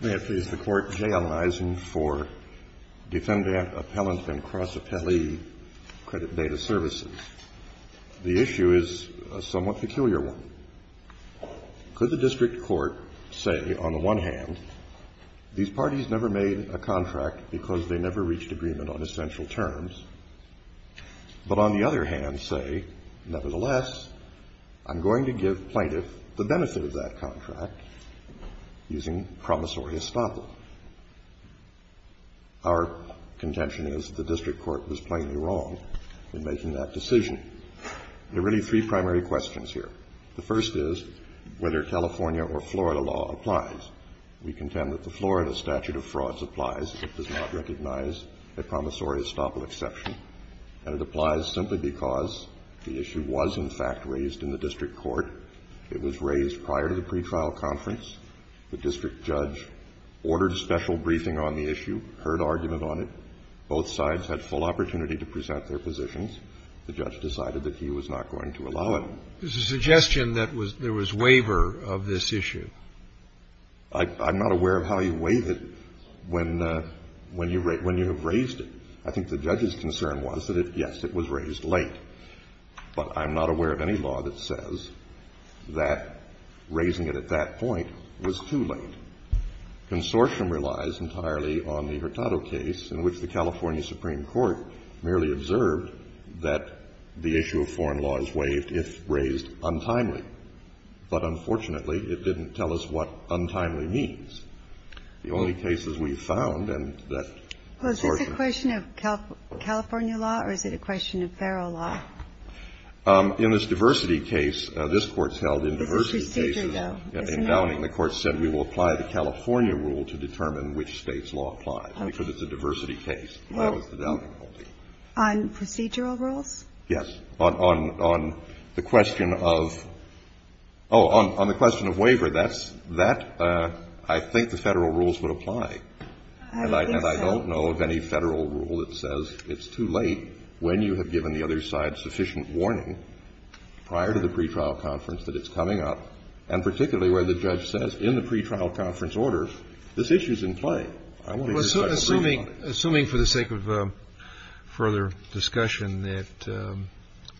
May it please the Court, J. Allen Eisen for Defendant, Appellant, and Cross-Appellee Credit Data Services. The issue is a somewhat peculiar one. Could the district court say, on the one hand, these parties never made a contract because they never reached agreement on essential terms, but on the other hand say, nevertheless, I'm going to give plaintiff the benefit of that contract using promissory estoppel? Our contention is that the district court was plainly wrong in making that decision. There are really three primary questions here. The first is whether California or Florida law applies. We contend that the Florida statute of frauds applies. It does not recognize a promissory estoppel exception, and it applies simply because The issue was, in fact, raised in the district court. It was raised prior to the pretrial conference. The district judge ordered a special briefing on the issue, heard argument on it. Both sides had full opportunity to present their positions. The judge decided that he was not going to allow it. There's a suggestion that there was waiver of this issue. I'm not aware of how you waive it when you have raised it. I think the judge's But I'm not aware of any law that says that raising it at that point was too late. Consortium relies entirely on the Hurtado case, in which the California Supreme Court merely observed that the issue of foreign law is waived if raised untimely. But unfortunately, it didn't tell us what untimely means. The only cases we found and that Consortium Is it a question of California law, or is it a question of federal law? In this diversity case, this Court's held in diversity cases. It's a procedure, though. In Downing, the Court said, we will apply the California rule to determine which State's law applies, because it's a diversity case. That was the Downing ruling. On procedural rules? Yes. On the question of waiver, that's – I think the Federal rules would apply. I don't think so. I don't know of any Federal rule that says it's too late when you have given the other side sufficient warning prior to the pretrial conference that it's coming up, and particularly where the judge says, in the pretrial conference order, this issue's in play. I want to make sure I'm agreeing on it. Assuming for the sake of further discussion that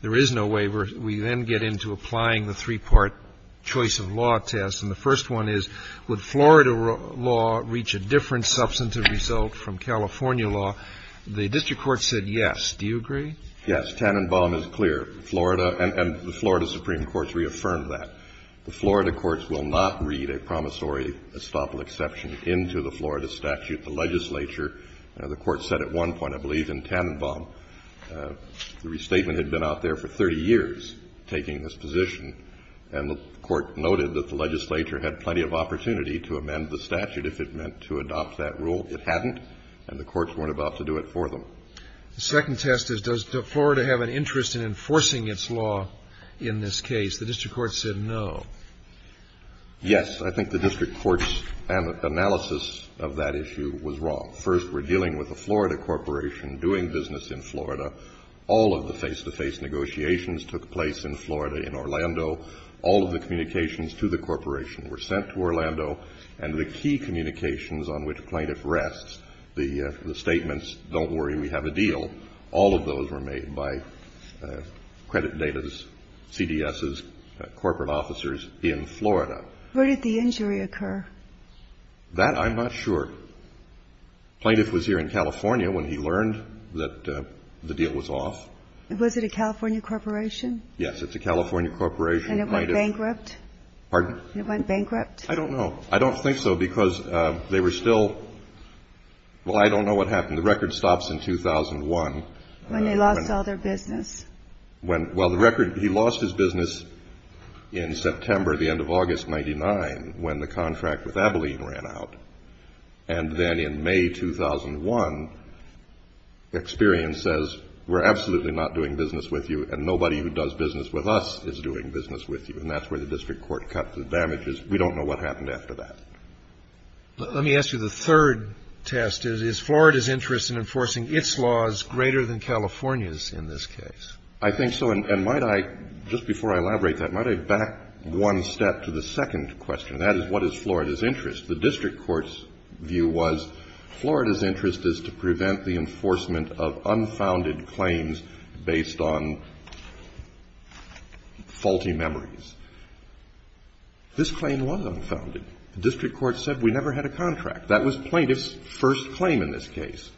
there is no waiver, we then get into applying the three-part choice of law test. And the first one is, would Florida law reach a different substantive result from California law? The district court said yes. Do you agree? Yes. Tannenbaum is clear. Florida – and the Florida Supreme Court's reaffirmed that. The Florida courts will not read a promissory estoppel exception into the Florida statute. The legislature – the Court said at one point, I believe, in Tannenbaum, the restatement had been out there for 30 years, taking this position. And the Court noted that the legislature had plenty of opportunity to amend the statute if it meant to adopt that rule. It hadn't. And the courts weren't about to do it for them. The second test is, does Florida have an interest in enforcing its law in this case? The district court said no. Yes. I think the district court's analysis of that issue was wrong. First, we're dealing with a Florida corporation doing business in Florida. All of the face-to-face negotiations took place in Florida, in Orlando. All of the communications to the corporation were sent to Orlando. And the key communications on which plaintiff rests, the statements, don't worry, we have a deal, all of those were made by credit data's, CDS's, corporate officers in Florida. Where did the injury occur? That I'm not sure. Plaintiff was here in California when he learned that the deal was off. Was it a California corporation? Yes, it's a California corporation. And it went bankrupt? Pardon? It went bankrupt? I don't know. I don't think so, because they were still, well, I don't know what happened. The record stops in 2001. When they lost all their business? When, well, the record, he lost his business in September, the end of August, 99, when the contract with Abilene ran out. And then in May 2001, experience says, we're absolutely not doing business with you, and nobody who does business with us is doing business with you. And that's where the district court cut the damages. We don't know what happened after that. Let me ask you the third test. Is Florida's interest in enforcing its laws greater than California's in this case? I think so, and might I, just before I elaborate that, might I back one step to the second question? That is, what is Florida's interest? The district court's view was Florida's interest is to prevent the enforcement of unfounded claims based on faulty memories. This claim was unfounded. The district court said we never had a contract. That was plaintiff's first claim in this case,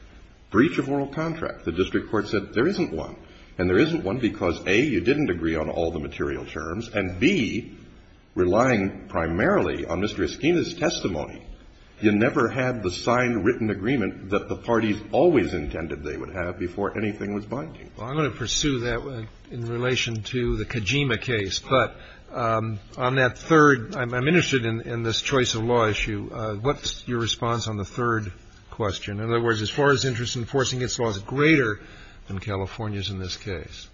breach of oral contract. The district court said there isn't one, and there isn't one because, A, you didn't agree on all the material terms, and, B, relying primarily on Mr. Esquina's testimony, you never had the signed, written agreement that the parties always intended they would have before anything was binding. Well, I'm going to pursue that in relation to the Kojima case. But on that third, I'm interested in this choice of law issue. What's your response on the third question? In other words, is Florida's interest in enforcing its laws greater than California's in this case?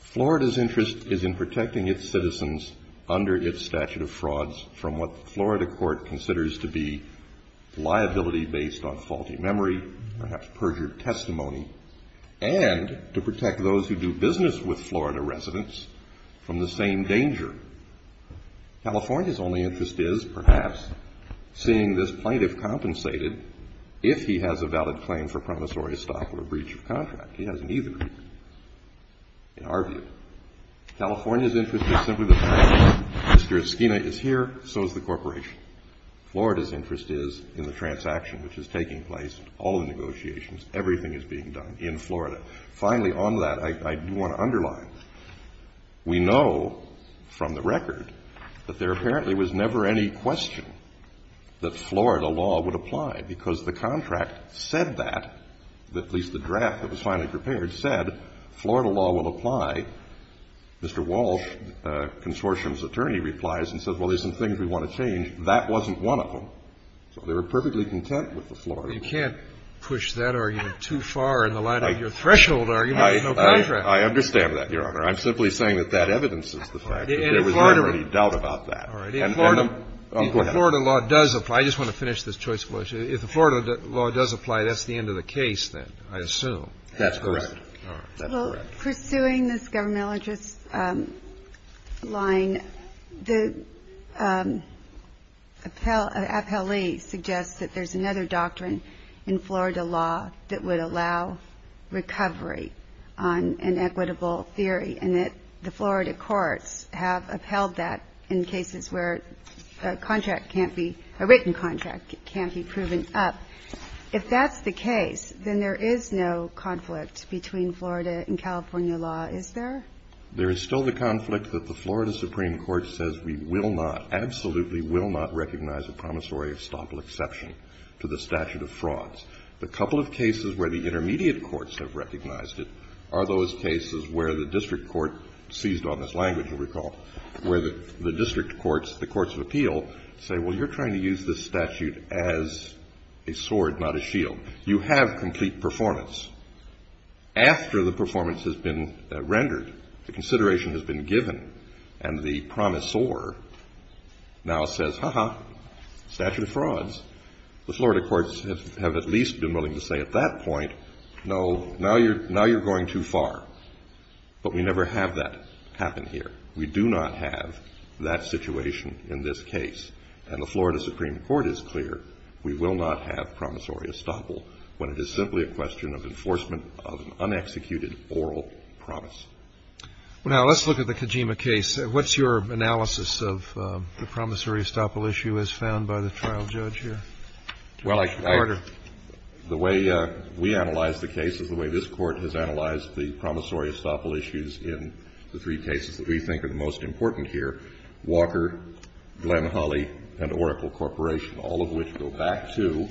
Florida's interest is in protecting its citizens under its statute of frauds from what the Florida court considers to be liability based on faulty memory, perhaps perjured testimony, and to protect those who do business with Florida residents from the same danger. California's only interest is, perhaps, seeing this plaintiff compensated if he has a valid claim for promissory stock or a breach of contract. He hasn't either, in our view. California's interest is simply the fact that Mr. Esquina is here, so is the corporation. Florida's interest is in the transaction which is taking place, all the negotiations, everything is being done in Florida. Finally, on that, I do want to underline, we know from the record that there apparently was never any question that Florida law would apply, because the contract said that, at least the draft that was finally prepared, said Florida law will apply. Mr. Walsh, consortium's attorney, replies and says, well, there's some things we want to change. That wasn't one of them. So they were perfectly content with the Florida law. You can't push that argument too far in the light of your threshold argument. There's no contract. I understand that, Your Honor. I'm simply saying that that evidences the fact that there was never any doubt about that. All right. And Florida law does apply. I just want to finish this choice of words. If the Florida law does apply, that's the end of the case, then, I assume. That's correct. All right. That's correct. Well, pursuing this governmental interest line, the appellee suggests that there's another doctrine in Florida law that would allow recovery on an equitable theory, and that the Florida courts have upheld that in cases where a contract can't be, a written contract can't be proven up. If that's the case, then there is no conflict between Florida and California law, is there? There is still the conflict that the Florida Supreme Court says we will not, recognize a promissory estoppel exception to the statute of frauds. The couple of cases where the intermediate courts have recognized it are those cases where the district court, seized on this language, you'll recall, where the district courts, the courts of appeal, say, well, you're trying to use this statute as a sword, not a shield. You have complete performance. After the performance has been rendered, the consideration has been given, and the promissor now says, ha-ha, statute of frauds, the Florida courts have at least been willing to say at that point, no, now you're going too far, but we never have that happen here. We do not have that situation in this case, and the Florida Supreme Court is clear, we will not have promissory estoppel when it is simply a question of enforcement of an unexecuted oral promise. Well, now, let's look at the Kojima case. What's your analysis of the promissory estoppel issue as found by the trial judge here? Well, I think the way we analyze the case is the way this Court has analyzed the promissory estoppel issues in the three cases that we think are the most important here, Walker, Glenn-Hawley, and Oracle Corporation, all of which go back to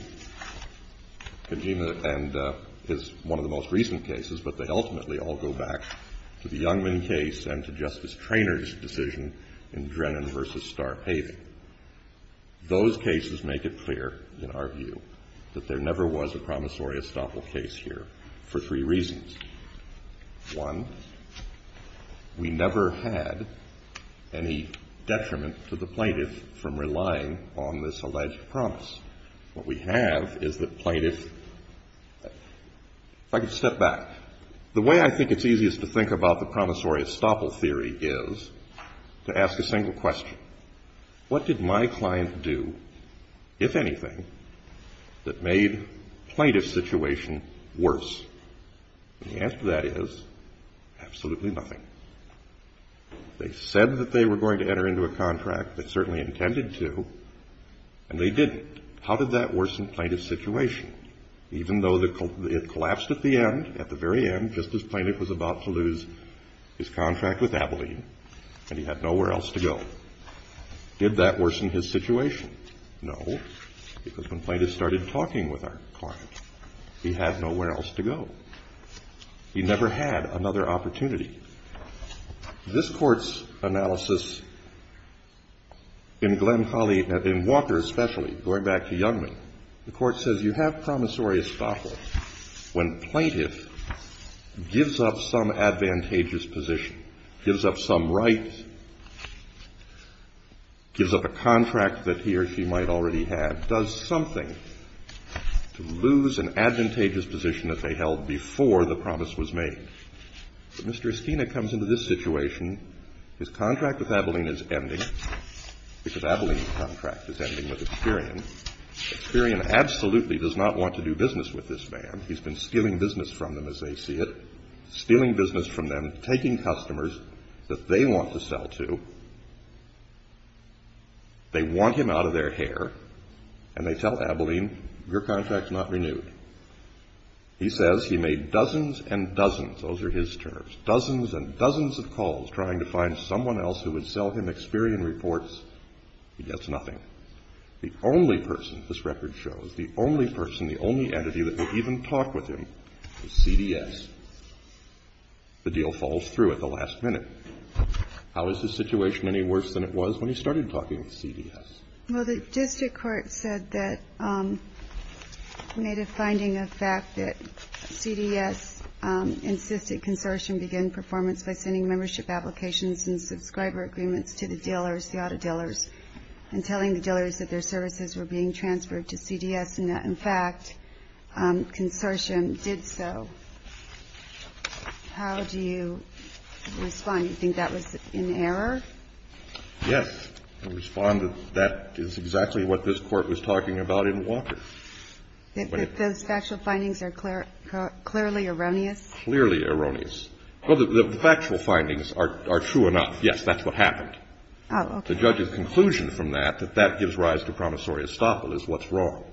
Kojima and is one of the most recent cases, but they ultimately all go back to the original to the Youngman case and to Justice Traynor's decision in Drennan v. Star Paving. Those cases make it clear, in our view, that there never was a promissory estoppel case here for three reasons. One, we never had any detriment to the plaintiff from relying on this alleged promise. What we have is the plaintiff – if I could step back. The way I think it's easiest to think about the promissory estoppel theory is to ask a single question. What did my client do, if anything, that made the plaintiff's situation worse? And the answer to that is absolutely nothing. They said that they were going to enter into a contract, they certainly intended to, and they didn't. How did that worsen the plaintiff's situation? Even though it collapsed at the end, at the very end, just as the plaintiff was about to lose his contract with Abilene, and he had nowhere else to go, did that worsen his situation? No, because when plaintiffs started talking with our client, he had nowhere else to go. He never had another opportunity. This Court's analysis in Glen Folly, in Walker especially, going back to Youngman, the Court says you have promissory estoppel when plaintiff gives up some advantageous position, gives up some rights, gives up a contract that he or she might already have, does something to lose an advantageous position that they held before the promise was made. But Mr. Esquina comes into this situation, his contract with Abilene is ending, because Abilene's contract is ending with Experian. Experian absolutely does not want to do business with this man. He's been stealing business from them as they see it, stealing business from them, taking customers that they want to sell to. They want him out of their hair, and they tell Abilene, your contract's not renewed. He says he made dozens and dozens, those are his terms, dozens and dozens of calls trying to find someone else who would sell him Experian reports. He gets nothing. The only person, this record shows, the only person, the only entity that would even talk with him was CDS. The deal falls through at the last minute. How is his situation any worse than it was when he started talking with CDS? Well, the district court said that, made a finding of fact that CDS insisted that the consortium begin performance by sending membership applications and subscriber agreements to the dealers, the auto dealers, and telling the dealers that their services were being transferred to CDS and that, in fact, consortium did so. How do you respond? Do you think that was an error? Yes, I respond that that is exactly what this court was talking about in Walker. That those factual findings are clearly erroneous? Clearly erroneous. Well, the factual findings are true enough. Yes, that's what happened. Oh, okay. The judge's conclusion from that, that that gives rise to promissory estoppel, is what's wrong.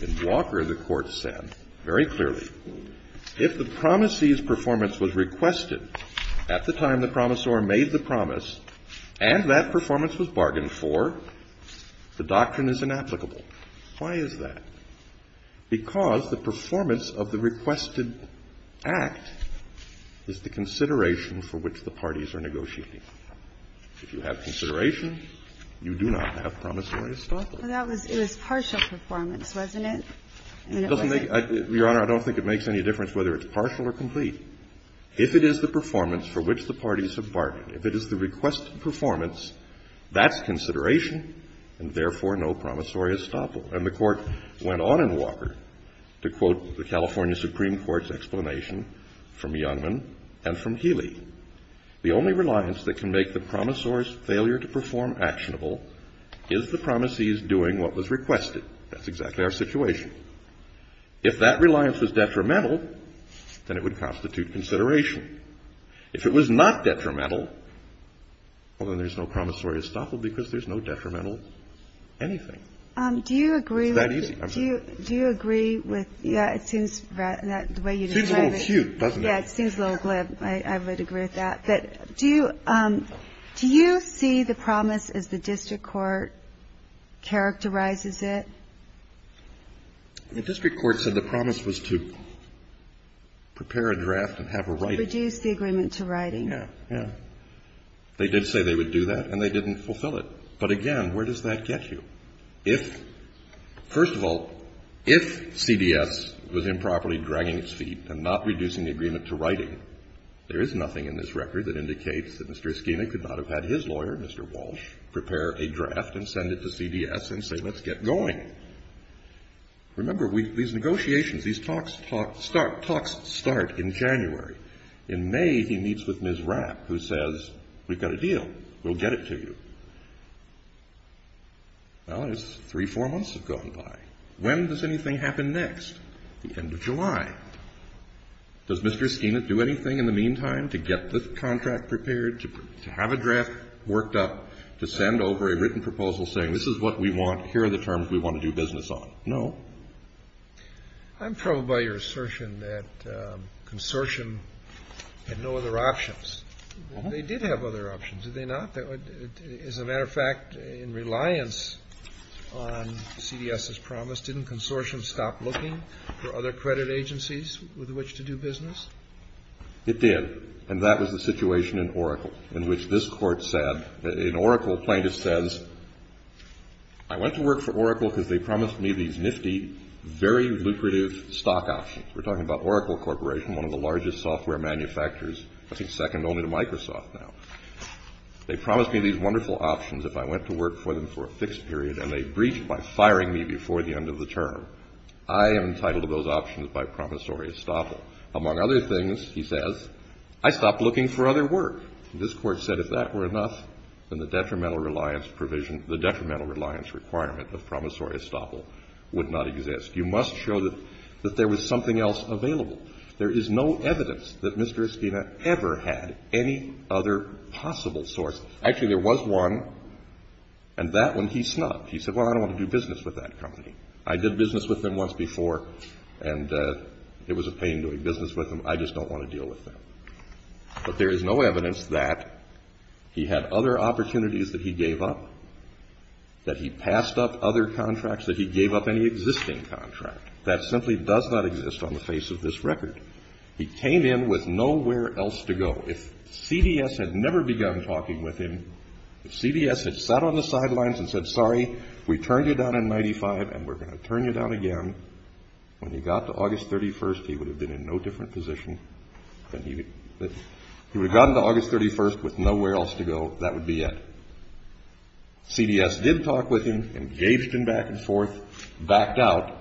In Walker, the court said very clearly, if the promisee's performance was requested at the time the promissor made the promise and that performance was bargained for, the doctrine is inapplicable. Why is that? Because the performance of the requested act is the consideration for which the parties are negotiating. If you have consideration, you do not have promissory estoppel. Well, that was – it was partial performance, wasn't it? And it wasn't – Your Honor, I don't think it makes any difference whether it's partial or complete. If it is the performance for which the parties have bargained, if it is the requested performance, that's consideration, and therefore no promissory estoppel. And the court went on in Walker to quote the California Supreme Court's explanation from Youngman and from Healy. The only reliance that can make the promissor's failure to perform actionable is the promisee's doing what was requested. That's exactly our situation. If that reliance was detrimental, then it would constitute consideration. If it was not detrimental, well, then there's no promissory estoppel because there's no detrimental anything. Do you agree with – It's that easy. I'm sorry. Do you agree with – yeah, it seems that the way you describe it – It seems a little cute, doesn't it? Yeah, it seems a little glib. I would agree with that. But do you – do you see the promise as the district court characterizes it? The district court said the promise was to prepare a draft and have a writing. Reduce the agreement to writing. Yeah. Yeah. They did say they would do that, and they didn't fulfill it. But again, where does that get you? If – first of all, if CDS was improperly dragging its feet and not reducing the agreement to writing, there is nothing in this record that indicates that Mr. Eskina could not have had his lawyer, Mr. Walsh, prepare a draft and send it to CDS and say, let's get going. Remember these negotiations, these talks start in January. In May, he meets with Ms. Rapp, who says, we've got a deal. We'll get it to you. Well, it's three, four months have gone by. When does anything happen next? The end of July. Does Mr. Eskina do anything in the meantime to get the contract prepared, to have a draft worked up, to send over a written proposal saying, this is what we want, here are the terms we want to do business on? No. I'm troubled by your assertion that Consortium had no other options. They did have other options, did they not? As a matter of fact, in reliance on CDS's promise, didn't Consortium stop looking for other credit agencies with which to do business? It did. And that was the situation in Oracle, in which this Court said – in Oracle plaintiffs says, I went to work for Oracle because they promised me these nifty, very lucrative stock options. We're talking about Oracle Corporation, one of the largest software manufacturers, I think second only to Microsoft now. They promised me these wonderful options if I went to work for them for a fixed period, and they breached by firing me before the end of the term. I am entitled to those options by promissory estoppel. Among other things, he says, I stopped looking for other work. And this Court said if that were enough, then the detrimental reliance provision, the detrimental reliance requirement of promissory estoppel would not exist. You must show that there was something else available. There is no evidence that Mr. Esquina ever had any other possible source. Actually, there was one, and that one he snubbed. He said, well, I don't want to do business with that company. I did business with them once before, and it was a pain doing business with them. I just don't want to deal with them. But there is no evidence that he had other opportunities that he gave up, that he passed up other contracts, that he gave up any existing contract. That simply does not exist on the face of this record. He came in with nowhere else to go. If CBS had never begun talking with him, if CBS had sat on the sidelines and said, sorry, we turned you down in 1995, and we're going to turn you down again, when he got to August 31st, he would have been in no different position. He would have gotten to August 31st with nowhere else to go. That would be it. CBS did talk with him, engaged him back and forth, backed out,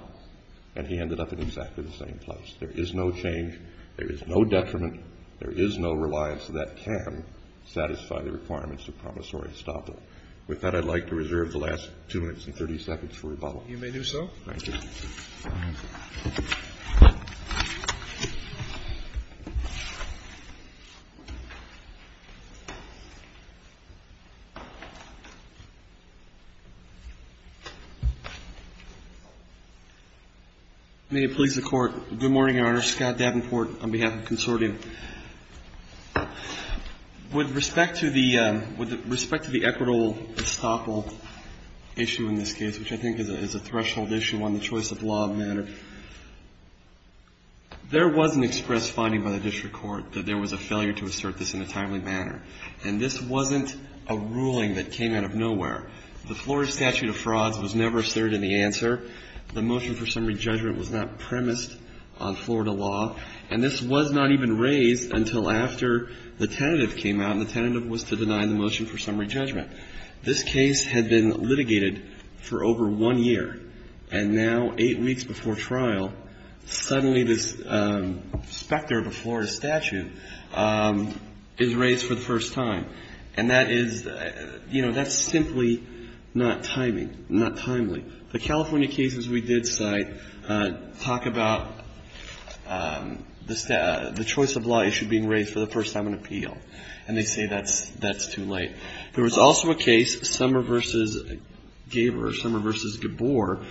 and he ended up in exactly the same place. There is no change. There is no detriment. There is no reliance that can satisfy the requirements of promissory estoppel. With that, I'd like to reserve the last 230 seconds for rebuttal. You may do so. Thank you. May it please the Court. Good morning, Your Honor. Scott Davenport on behalf of the Consortium. With respect to the equitable estoppel issue in this case, which I think is a threshold issue on the choice of law of matter, there was an express finding by the district court that there was a failure to assert this in a timely manner. And this wasn't a ruling that came out of nowhere. The Florida statute of frauds was never asserted in the answer. The motion for summary judgment was not premised on Florida law. And this was not even raised until after the tentative came out, and the tentative was to deny the motion for summary judgment. This case had been litigated for over one year. And now, eight weeks before trial, suddenly this specter of a Florida statute is raised for the first time. And that is, you know, that's simply not timing, not timely. The California cases we did cite talk about the choice of law issue being raised for the first time in appeal. And they say that's too late. There was also a case, Summer v. Gaber, Summer v. Gabor,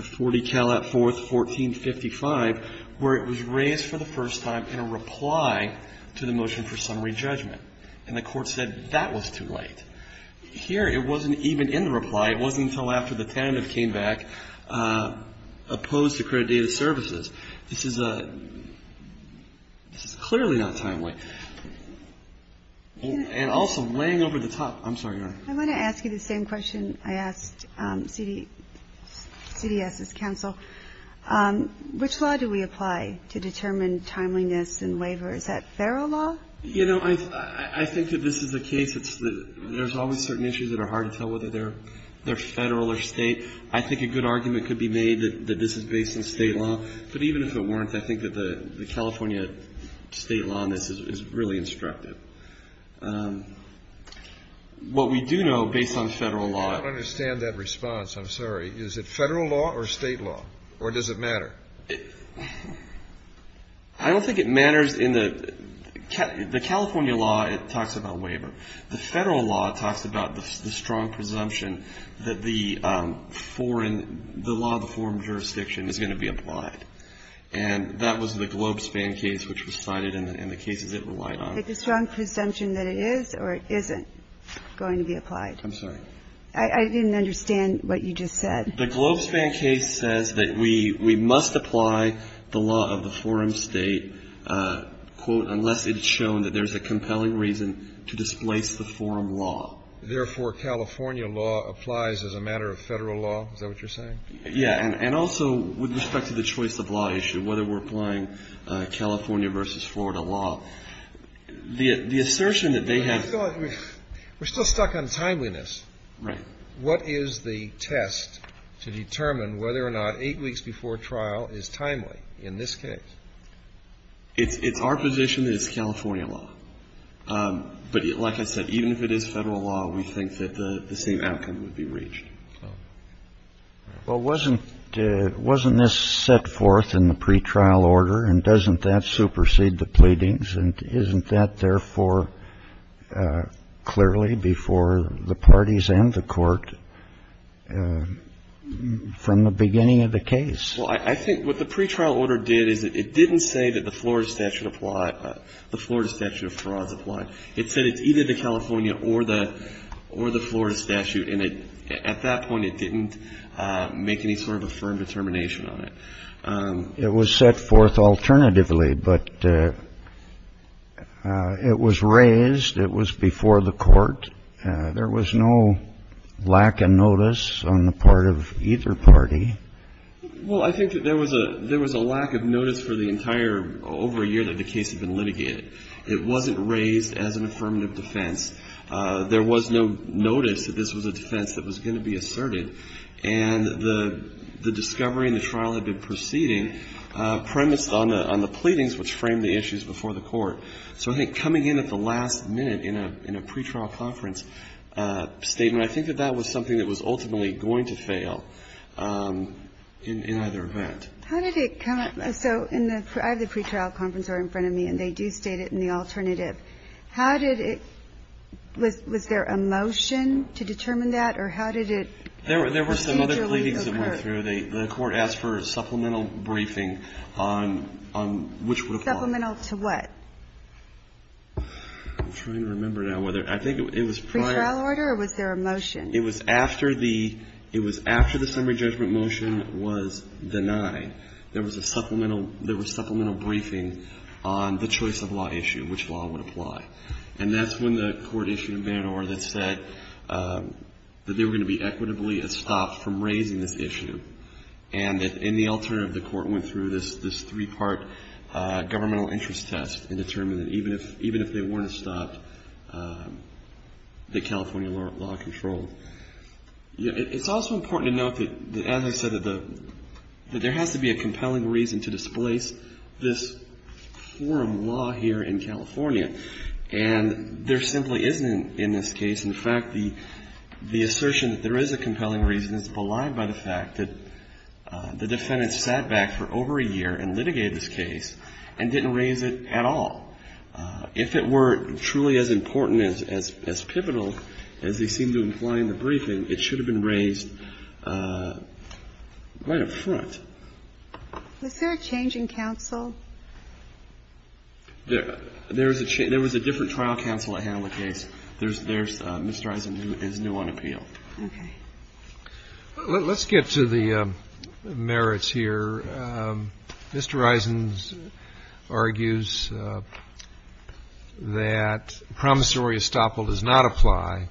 40 Calat 4th, 1455, where it was raised for the first time in a reply to the motion for summary judgment. And the Court said that was too late. Here, it wasn't even in the reply. It wasn't until after the tentative came back, opposed to credit data services. This is clearly not timely. And also, laying over the top. I'm sorry, Your Honor. I want to ask you the same question I asked CDS's counsel. Which law do we apply to determine timeliness in waiver? Is that federal law? You know, I think that this is the case. There's always certain issues that are hard to tell whether they're federal or state. I think a good argument could be made that this is based on state law. But even if it weren't, I think that the California state law on this is really instructive. What we do know, based on federal law. I don't understand that response. I'm sorry. Is it federal law or state law? Or does it matter? I don't think it matters. In the California law, it talks about waiver. The federal law talks about the strong presumption that the foreign, the law of the foreign jurisdiction is going to be applied. And that was the Globespan case, which was cited in the cases it relied on. The strong presumption that it is or it isn't going to be applied. I'm sorry. I didn't understand what you just said. The Globespan case says that we must apply the law of the foreign state, quote, unless it's shown that there's a compelling reason to displace the foreign law. Therefore, California law applies as a matter of federal law. Is that what you're saying? Yeah. And also with respect to the choice of law issue, whether we're applying California versus Florida law. The assertion that they have. We're still stuck on timeliness. Right. What is the test to determine whether or not eight weeks before trial is timely in this case? It's our position that it's California law. But like I said, even if it is federal law, we think that the same outcome would be reached. Well, wasn't this set forth in the pretrial order? And doesn't that supersede the pleadings? Isn't that, therefore, clearly before the parties and the court from the beginning of the case? Well, I think what the pretrial order did is it didn't say that the Florida statute of frauds applied. It said it's either the California or the Florida statute. And at that point, it didn't make any sort of a firm determination on it. It was set forth alternatively, but it was raised. It was before the court. There was no lack of notice on the part of either party. Well, I think that there was a lack of notice for the entire over a year that the case had been litigated. It wasn't raised as an affirmative defense. There was no notice that this was a defense that was going to be asserted. And the discovery and the trial had been proceeding premised on the pleadings which framed the issues before the court. So I think coming in at the last minute in a pretrial conference statement, I think that that was something that was ultimately going to fail in either event. How did it come up? So I have the pretrial conference order in front of me, and they do state it in the alternative. How did it – was there a motion to determine that, or how did it come up? There were some other pleadings that went through. The court asked for a supplemental briefing on which would apply. Supplemental to what? I'm trying to remember now whether – I think it was prior – Pretrial order, or was there a motion? It was after the – it was after the summary judgment motion was denied. There was a supplemental – there was supplemental briefing on the choice of law issue, which law would apply. And that's when the court issued a banner that said that they were going to be equitably estopped from raising this issue. And in the alternative, the court went through this three-part governmental interest test and determined that even if they weren't estopped, that California law controlled. It's also important to note that, as I said, that there has to be a compelling reason to displace this forum law here in California. And there simply isn't in this case. In fact, the assertion that there is a compelling reason is belied by the fact that the defendant sat back for over a year and litigated this case and didn't raise it at all. If it were truly as important, as pivotal as they seem to imply in the briefing, it should have been raised right up front. Was there a change in counsel? There was a different trial counsel at hand in the case. There's – Mr. Eisen is new on appeal. Okay. Let's get to the merits here. Mr. Eisen argues that promissory estoppel does not apply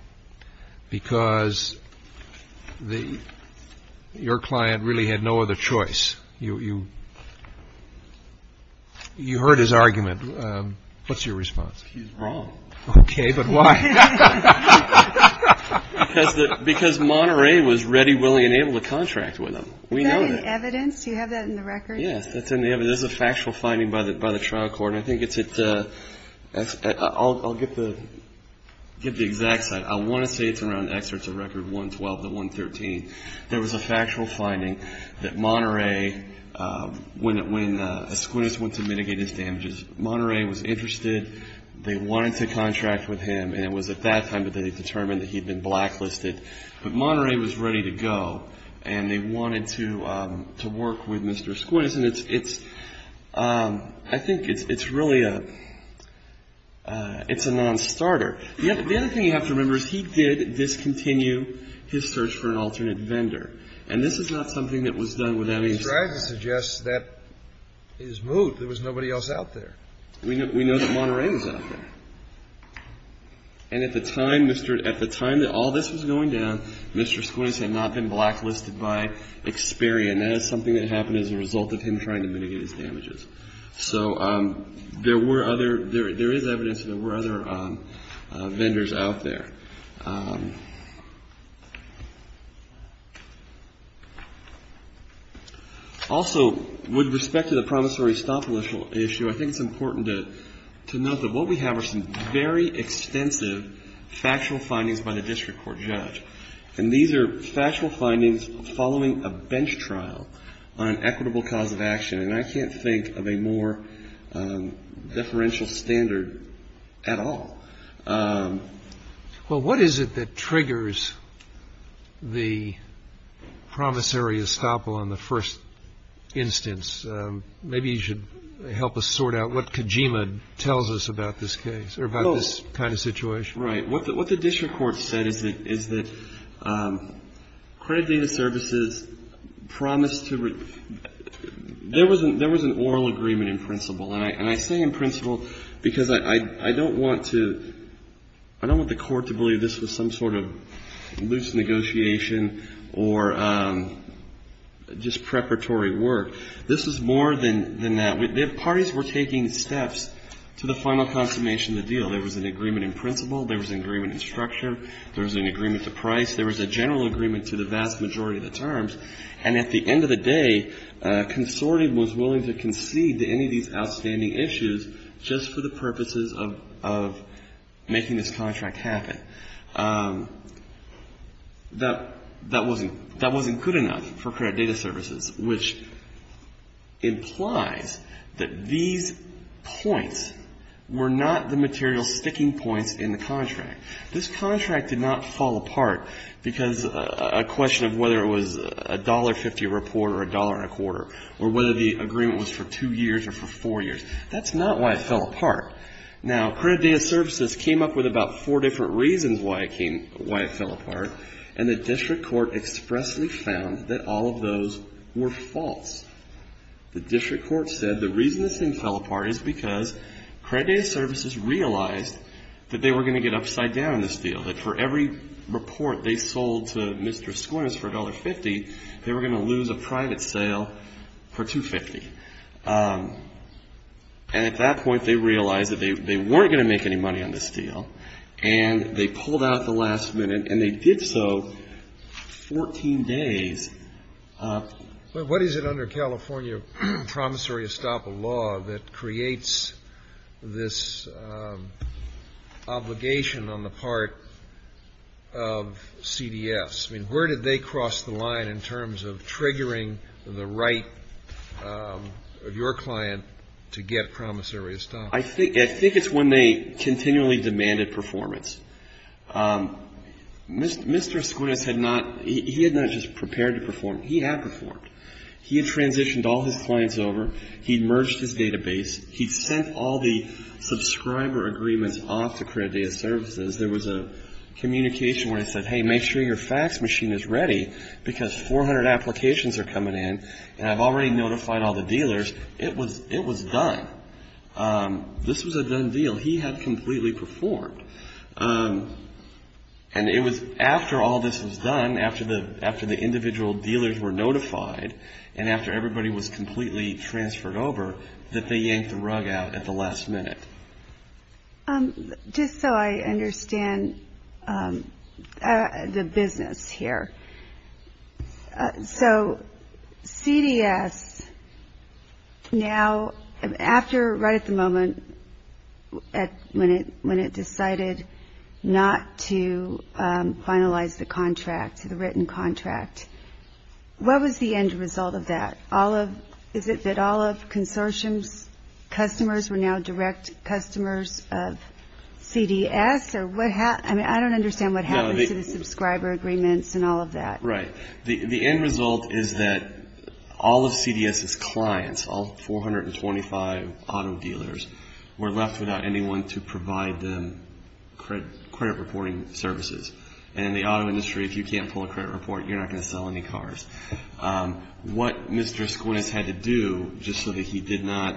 because the – your client really had no other choice. You heard his argument. What's your response? He's wrong. Okay. But why? Because Monterey was ready, willing, and able to contract with him. We know that. Is that in evidence? Do you have that in the record? Yes. That's in the evidence. There's a factual finding by the trial court. I think it's at – I'll get the exact site. I want to say it's around excerpts of record 112 to 113. There was a factual finding that Monterey, when Esquinas went to mitigate his damages, Monterey was interested. They wanted to contract with him, and it was at that time that they determined that he'd been blacklisted. But Monterey was ready to go, and they wanted to work with Mr. Esquinas. And it's – I think it's really a – it's a nonstarter. The other thing you have to remember is he did discontinue his search for an alternate vendor. And this is not something that was done without his consent. I'm trying to suggest that is moot. There was nobody else out there. We know that Monterey was out there. And at the time, Mr. – at the time that all this was going down, Mr. Esquinas had not been blacklisted by Experian. That is something that happened as a result of him trying to mitigate his damages. So there were other – there is evidence that there were other vendors out there. Also, with respect to the promissory stop issue, I think it's important to note that what we have are some very extensive factual findings by the district court judge. And these are factual findings following a bench trial on an equitable cause of action. And I can't think of a more deferential standard at all. Well, what is it that triggers the promissory estoppel on the first instance? Maybe you should help us sort out what Kojima tells us about this case or about this kind of situation. Right. What the district court said is that credit data services promised to – there was an oral agreement in principle. And I say in principle because I don't want to – I don't want the court to believe this was some sort of loose negotiation or just preparatory work. This was more than that. Parties were taking steps to the final consummation of the deal. There was an agreement in principle. There was an agreement in structure. There was an agreement to price. There was a general agreement to the vast majority of the terms. And at the end of the day, a consortium was willing to concede to any of these outstanding issues just for the purposes of making this contract happen. That wasn't good enough for credit data services, which implies that these points were not the material sticking points in the contract. This contract did not fall apart because a question of whether it was $1.50 a report or $1.25 or whether the agreement was for two years or for four years. That's not why it fell apart. Now, credit data services came up with about four different reasons why it fell apart, and the district court expressly found that all of those were false. The district court said the reason this thing fell apart is because credit data services realized that they were going to get upside down in this deal, that for every report they sold to Mr. Squires for $1.50, they were going to lose a private sale for $2.50. And at that point, they realized that they weren't going to make any money on this deal, and they pulled out at the last minute, and they did so 14 days. But what is it under California promissory estoppel law that creates this obligation on the part of CDS? I mean, where did they cross the line in terms of triggering the right of your client to get promissory estoppel? I think it's when they continually demanded performance. Mr. Squires had not he had not just prepared to perform. He had performed. He had transitioned all his clients over. He merged his database. He sent all the subscriber agreements off to credit data services. There was a communication where he said, hey, make sure your fax machine is ready because 400 applications are coming in, and I've already notified all the dealers. It was done. This was a done deal. He had completely performed. And it was after all this was done, after the individual dealers were notified, and after everybody was completely transferred over, that they yanked the rug out at the last minute. Just so I understand the business here, so CDS now, after right at the moment when it decided not to finalize the contract, the written contract, what was the end result of that? Is it that all of consortium's customers were now direct customers of CDS? I mean, I don't understand what happened to the subscriber agreements and all of that. Right. The end result is that all of CDS's clients, all 425 auto dealers, were left without anyone to provide them credit reporting services. And in the auto industry, if you can't pull a credit report, you're not going to sell any cars. What Mr. Esquinas had to do, just so that he did not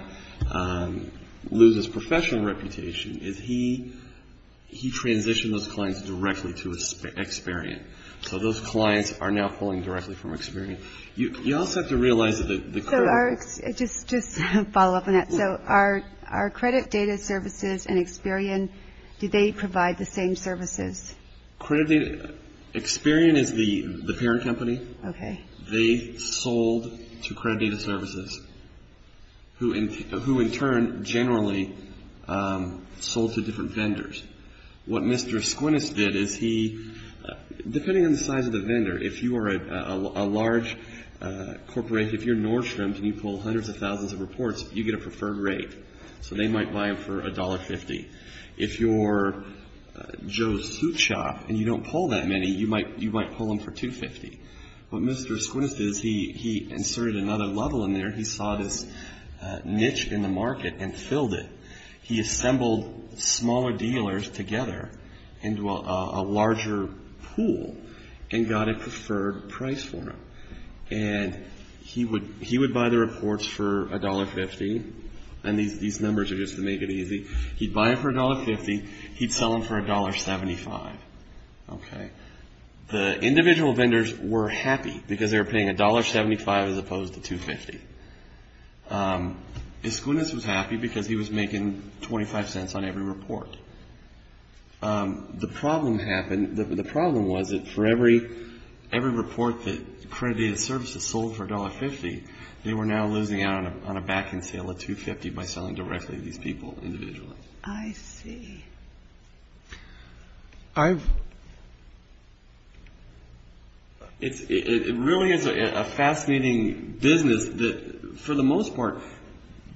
lose his professional reputation, is he transitioned those clients directly to Experian. So those clients are now pulling directly from Experian. You also have to realize that the credit... So just to follow up on that, so are credit data services and Experian, do they provide the same services? Credit data, Experian is the parent company. Okay. They sold to credit data services, who in turn generally sold to different vendors. What Mr. Esquinas did is he, depending on the size of the vendor, if you are a large corporate, if you're Nordstrom, and you pull hundreds of thousands of reports, you get a preferred rate. So they might buy them for $1.50. If you're Joe's Soup Shop and you don't pull that many, you might pull them for $2.50. What Mr. Esquinas did is he inserted another level in there. He saw this niche in the market and filled it. He assembled smaller dealers together into a larger pool and got a preferred price for them. And he would buy the reports for $1.50, and these numbers are just to make it easy. He'd buy them for $1.50. He'd sell them for $1.75. Okay. The individual vendors were happy because they were paying $1.75 as opposed to $2.50. Esquinas was happy because he was making 25 cents on every report. The problem happened, the problem was that for every report that credit data services sold for $1.50, they were now losing out on a back-end sale of $2.50 by selling directly to these people individually. I see. It really is a fascinating business that, for the most part,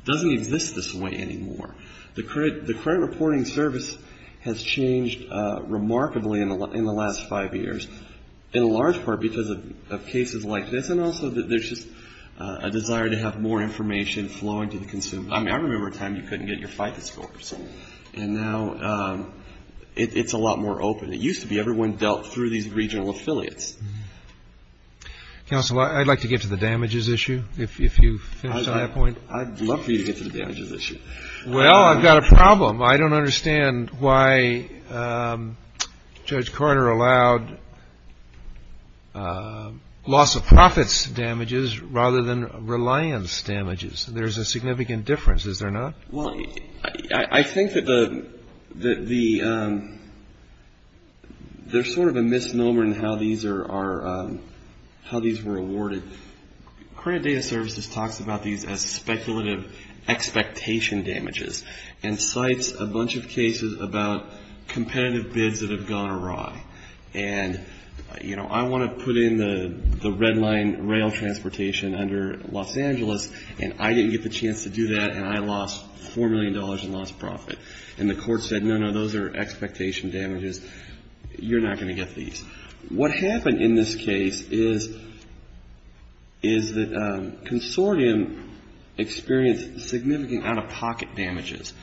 doesn't exist this way anymore. The credit reporting service has changed remarkably in the last five years, in large part because of cases like this, and also there's just a desire to have more information flowing to the consumer. I mean, I remember a time you couldn't get your FICA scores, and now it's a lot more open. It used to be everyone dealt through these regional affiliates. Counselor, I'd like to get to the damages issue, if you finish on that point. I'd love for you to get to the damages issue. Well, I've got a problem. I don't understand why Judge Carter allowed loss-of-profits damages rather than reliance damages. There's a significant difference, is there not? Well, I think that there's sort of a misnomer in how these were awarded. Credit data services talks about these as speculative expectation damages, and cites a bunch of cases about competitive bids that have gone awry. And, you know, I want to put in the Red Line rail transportation under Los Angeles, and I didn't get the chance to do that, and I lost $4 million in loss-of-profit. And the court said, no, no, those are expectation damages. You're not going to get these. What happened in this case is the consortium experienced significant out-of-pocket damages.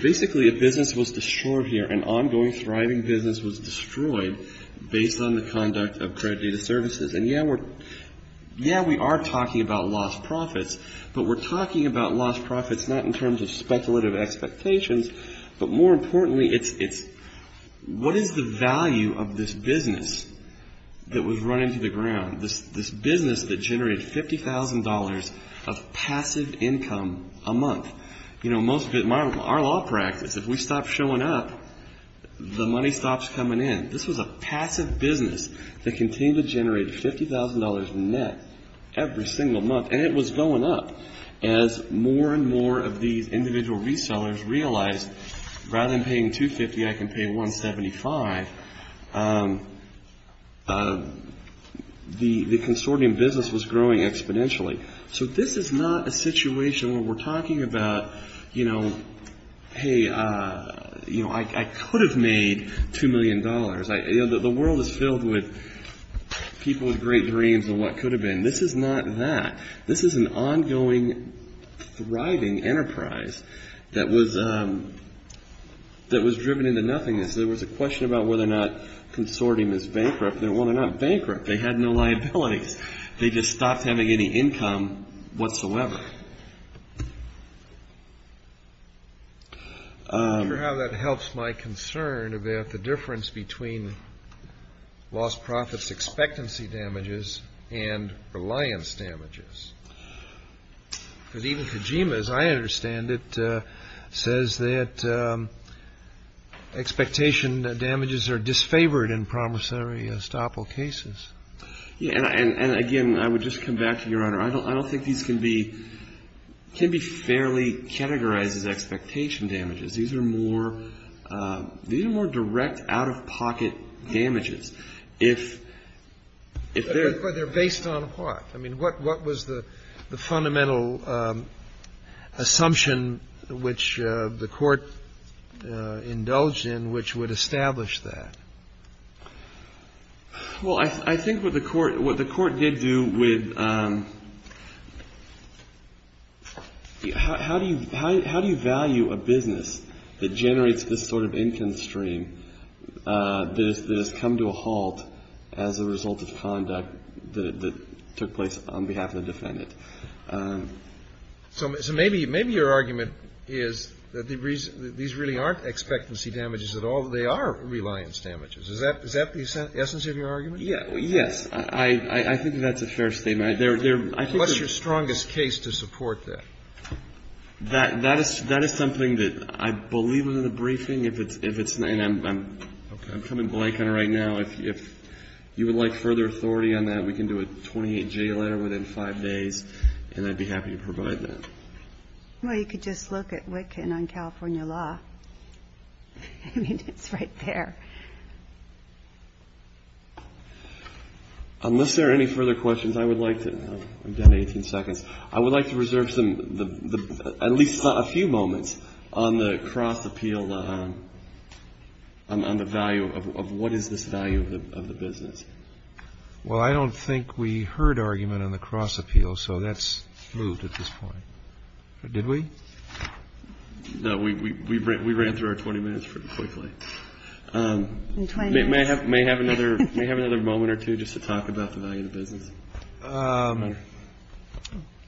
Basically, a business was destroyed here. An ongoing thriving business was destroyed based on the conduct of credit data services. And, yeah, we are talking about loss-of-profits, but we're talking about loss-of-profits not in terms of speculative expectations, but more importantly, it's what is the value of this business that was run into the ground, this business that generated $50,000 of passive income a month. You know, most of it, our law practice, if we stop showing up, the money stops coming in. This was a passive business that continued to generate $50,000 net every single month, and it was going up as more and more of these individual resellers realized rather than paying $250,000, I can pay $175,000. The consortium business was growing exponentially. So this is not a situation where we're talking about, you know, hey, you know, I could have made $2 million. The world is filled with people with great dreams of what could have been. This is not that. This is an ongoing thriving enterprise that was driven into nothingness. There was a question about whether or not consortium is bankrupt. Well, they're not bankrupt. They had no liabilities. They just stopped having any income whatsoever. I wonder how that helps my concern about the difference between lost profits expectancy damages and reliance damages. Because even Kojima, as I understand it, says that expectation damages are disfavored in promissory estoppel cases. Yeah. And again, I would just come back to Your Honor. I don't think these can be fairly categorized as expectation damages. These are more direct out-of-pocket damages. But they're based on what? I mean, what was the fundamental assumption which the Court indulged in which would establish that? Well, I think what the Court did do with how do you value a business that generates this sort of income stream that has come to a halt as a result of conduct that took place on behalf of the defendant? So maybe your argument is that these really aren't expectancy damages at all. They are reliance damages. Is that the essence of your argument? Yes. I think that's a fair statement. What's your strongest case to support that? That is something that I believe in the briefing. And I'm coming blank on it right now. If you would like further authority on that, we can do a 28-J letter within five days, and I'd be happy to provide that. Well, you could just look at Witkin on California law. I mean, it's right there. Unless there are any further questions, I would like to reserve at least a few moments on the cross-appeal, on the value of what is this value of the business. Well, I don't think we heard argument on the cross-appeal, so that's moved at this point. Did we? No, we ran through our 20 minutes pretty quickly. May I have another moment or two just to talk about the value of the business?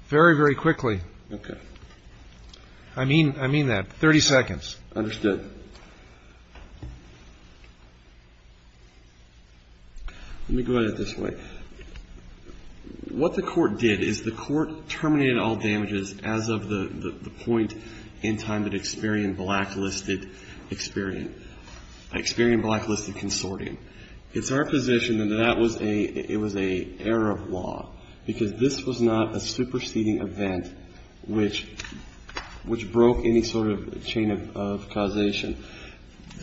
Very, very quickly. Okay. I mean that. 30 seconds. Understood. Let me go at it this way. What the court did is the court terminated all damages as of the point in time that Experian blacklisted Experian. Experian blacklisted consortium. It's our position that that was a error of law, because this was not a superseding event which broke any sort of chain of causation.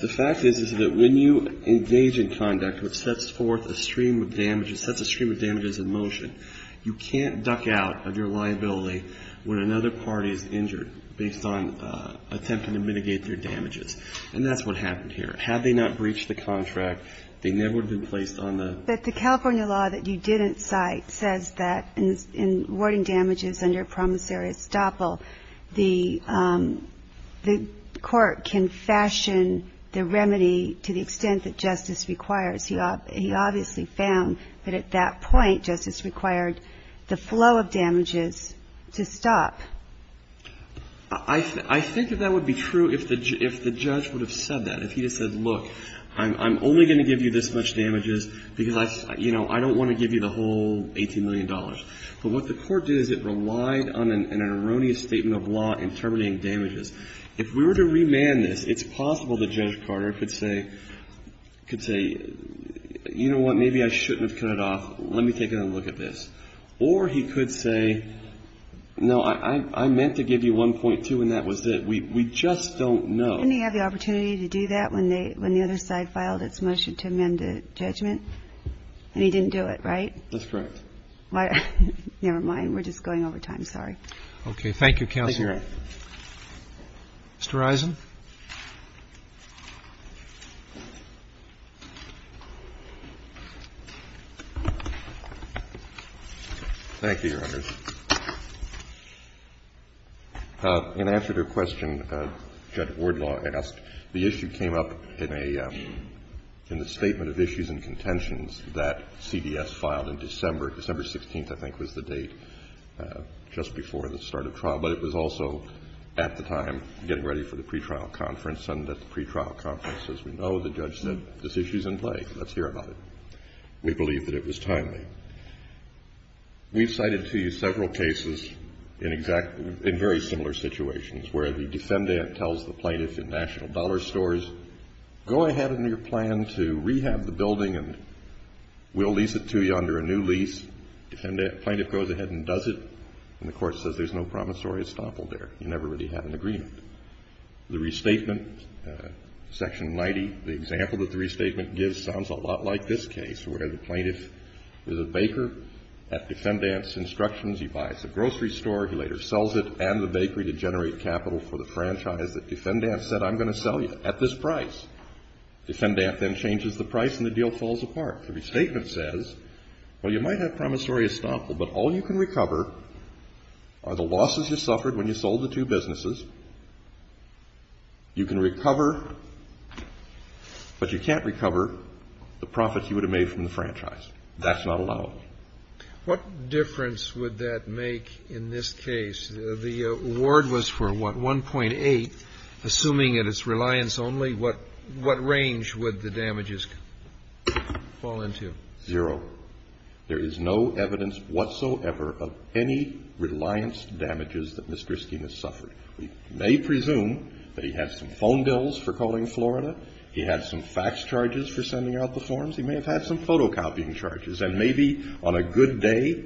The fact is, is that when you engage in conduct which sets forth a stream of damages, sets a stream of damages in motion, you can't duck out of your liability when another party is injured based on attempting to mitigate their damages. And that's what happened here. Had they not breached the contract, they never would have been placed on the ---- But the California law that you didn't cite says that in awarding damages under promissory estoppel, the court can fashion the remedy to the extent that justice requires. He obviously found that at that point justice required the flow of damages to stop. I think that that would be true if the judge would have said that. If he had said, look, I'm only going to give you this much damages because I don't want to give you the whole $18 million. But what the court did is it relied on an erroneous statement of law in terminating damages. If we were to remand this, it's possible that Judge Carter could say, you know what, maybe I shouldn't have cut it off. Let me take another look at this. Or he could say, no, I meant to give you 1.2 and that was it. We just don't know. Didn't he have the opportunity to do that when the other side filed its motion to amend the judgment? And he didn't do it, right? That's correct. Never mind. We're just going over time. Sorry. Okay. Thank you, Counselor. Mr. Eisen. Thank you, Your Honors. In answer to a question Judge Wardlaw asked, the issue came up in a statement of issues and contentions that CDS filed in December. December 16th, I think, was the date just before the start of trial. But it was also at the time getting ready for the pretrial conference. And at the pretrial conference, as we know, the judge said, this issue is in play. Let's hear about it. We believe that it was timely. We've cited to you several cases in very similar situations where the defendant tells the plaintiff in National Dollar Stores, go ahead in your plan to rehab the building and we'll lease it to you under a new lease. Plaintiff goes ahead and does it. And the court says there's no promissory estoppel there. You never really had an agreement. The restatement, Section 90, the example that the restatement gives sounds a lot like this case where the plaintiff is a baker at Defendant's instructions. He buys a grocery store. He later sells it and the bakery to generate capital for the franchise that Defendant said, I'm going to sell you at this price. Defendant then changes the price and the deal falls apart. The restatement says, well, you might have promissory estoppel, but all you can recover are the losses you suffered when you sold the two businesses. You can recover, but you can't recover the profits you would have made from the franchise. That's not allowed. What difference would that make in this case? The award was for what, 1.8? Assuming it is reliance only, what range would the damages fall into? Zero. There is no evidence whatsoever of any reliance damages that Mr. Skema suffered. We may presume that he had some phone bills for calling Florida. He had some fax charges for sending out the forms. He may have had some photocopying charges. And maybe on a good day,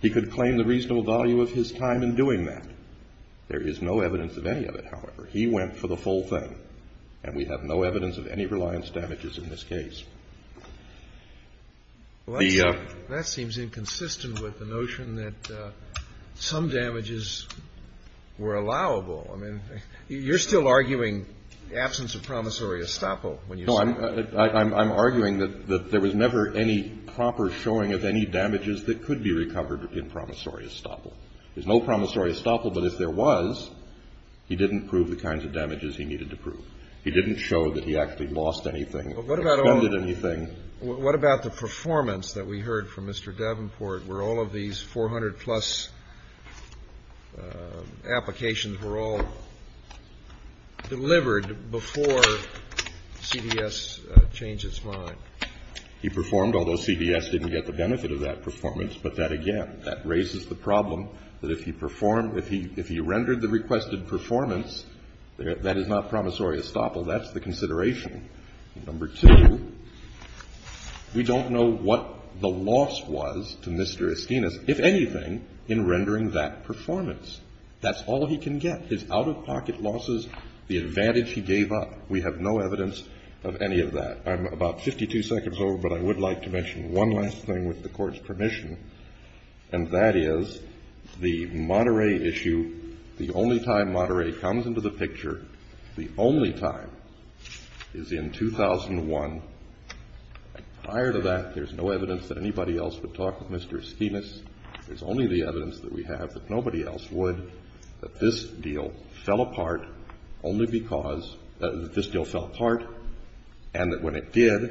he could claim the reasonable value of his time in doing that. There is no evidence of any of it, however. He went for the full thing. And we have no evidence of any reliance damages in this case. Well, that seems inconsistent with the notion that some damages were allowable. I mean, you're still arguing absence of promissory estoppel. No, I'm arguing that there was never any proper showing of any damages that could be recovered in promissory estoppel. There's no promissory estoppel, but if there was, he didn't prove the kinds of damages he needed to prove. He didn't show that he actually lost anything or expended anything. What about the performance that we heard from Mr. Davenport, where all of these 400-plus applications were all delivered before CBS changed its mind? He performed, although CBS didn't get the benefit of that performance. But that again, that raises the problem that if he performed, if he rendered the requested performance, that is not promissory estoppel. That's the consideration. Number two, we don't know what the loss was to Mr. Esquinas, if anything, in rendering that performance. That's all he can get, his out-of-pocket losses, the advantage he gave up. We have no evidence of any of that. I'm about 52 seconds over, but I would like to mention one last thing with the Court's permission, and that is the Monterey issue, the only time Monterey comes into the picture, the only time, is in 2001. Prior to that, there's no evidence that anybody else would talk with Mr. Esquinas. There's only the evidence that we have that nobody else would, that this deal fell apart only because, that this deal fell apart, and that when it did,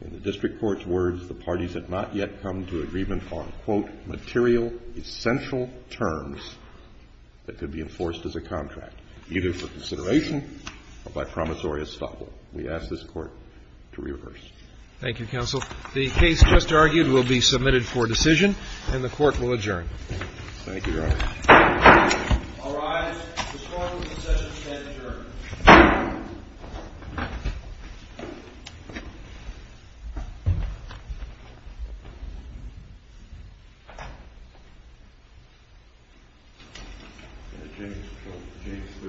in the district court's opinion, the parties had not yet come to agreement on, quote, material essential terms that could be enforced as a contract, either for consideration or by promissory estoppel. We ask this Court to reverse. Thank you, counsel. The case just argued will be submitted for decision, and the Court will adjourn. Thank you, Your Honor. All rise. The Court will concession stand adjourned.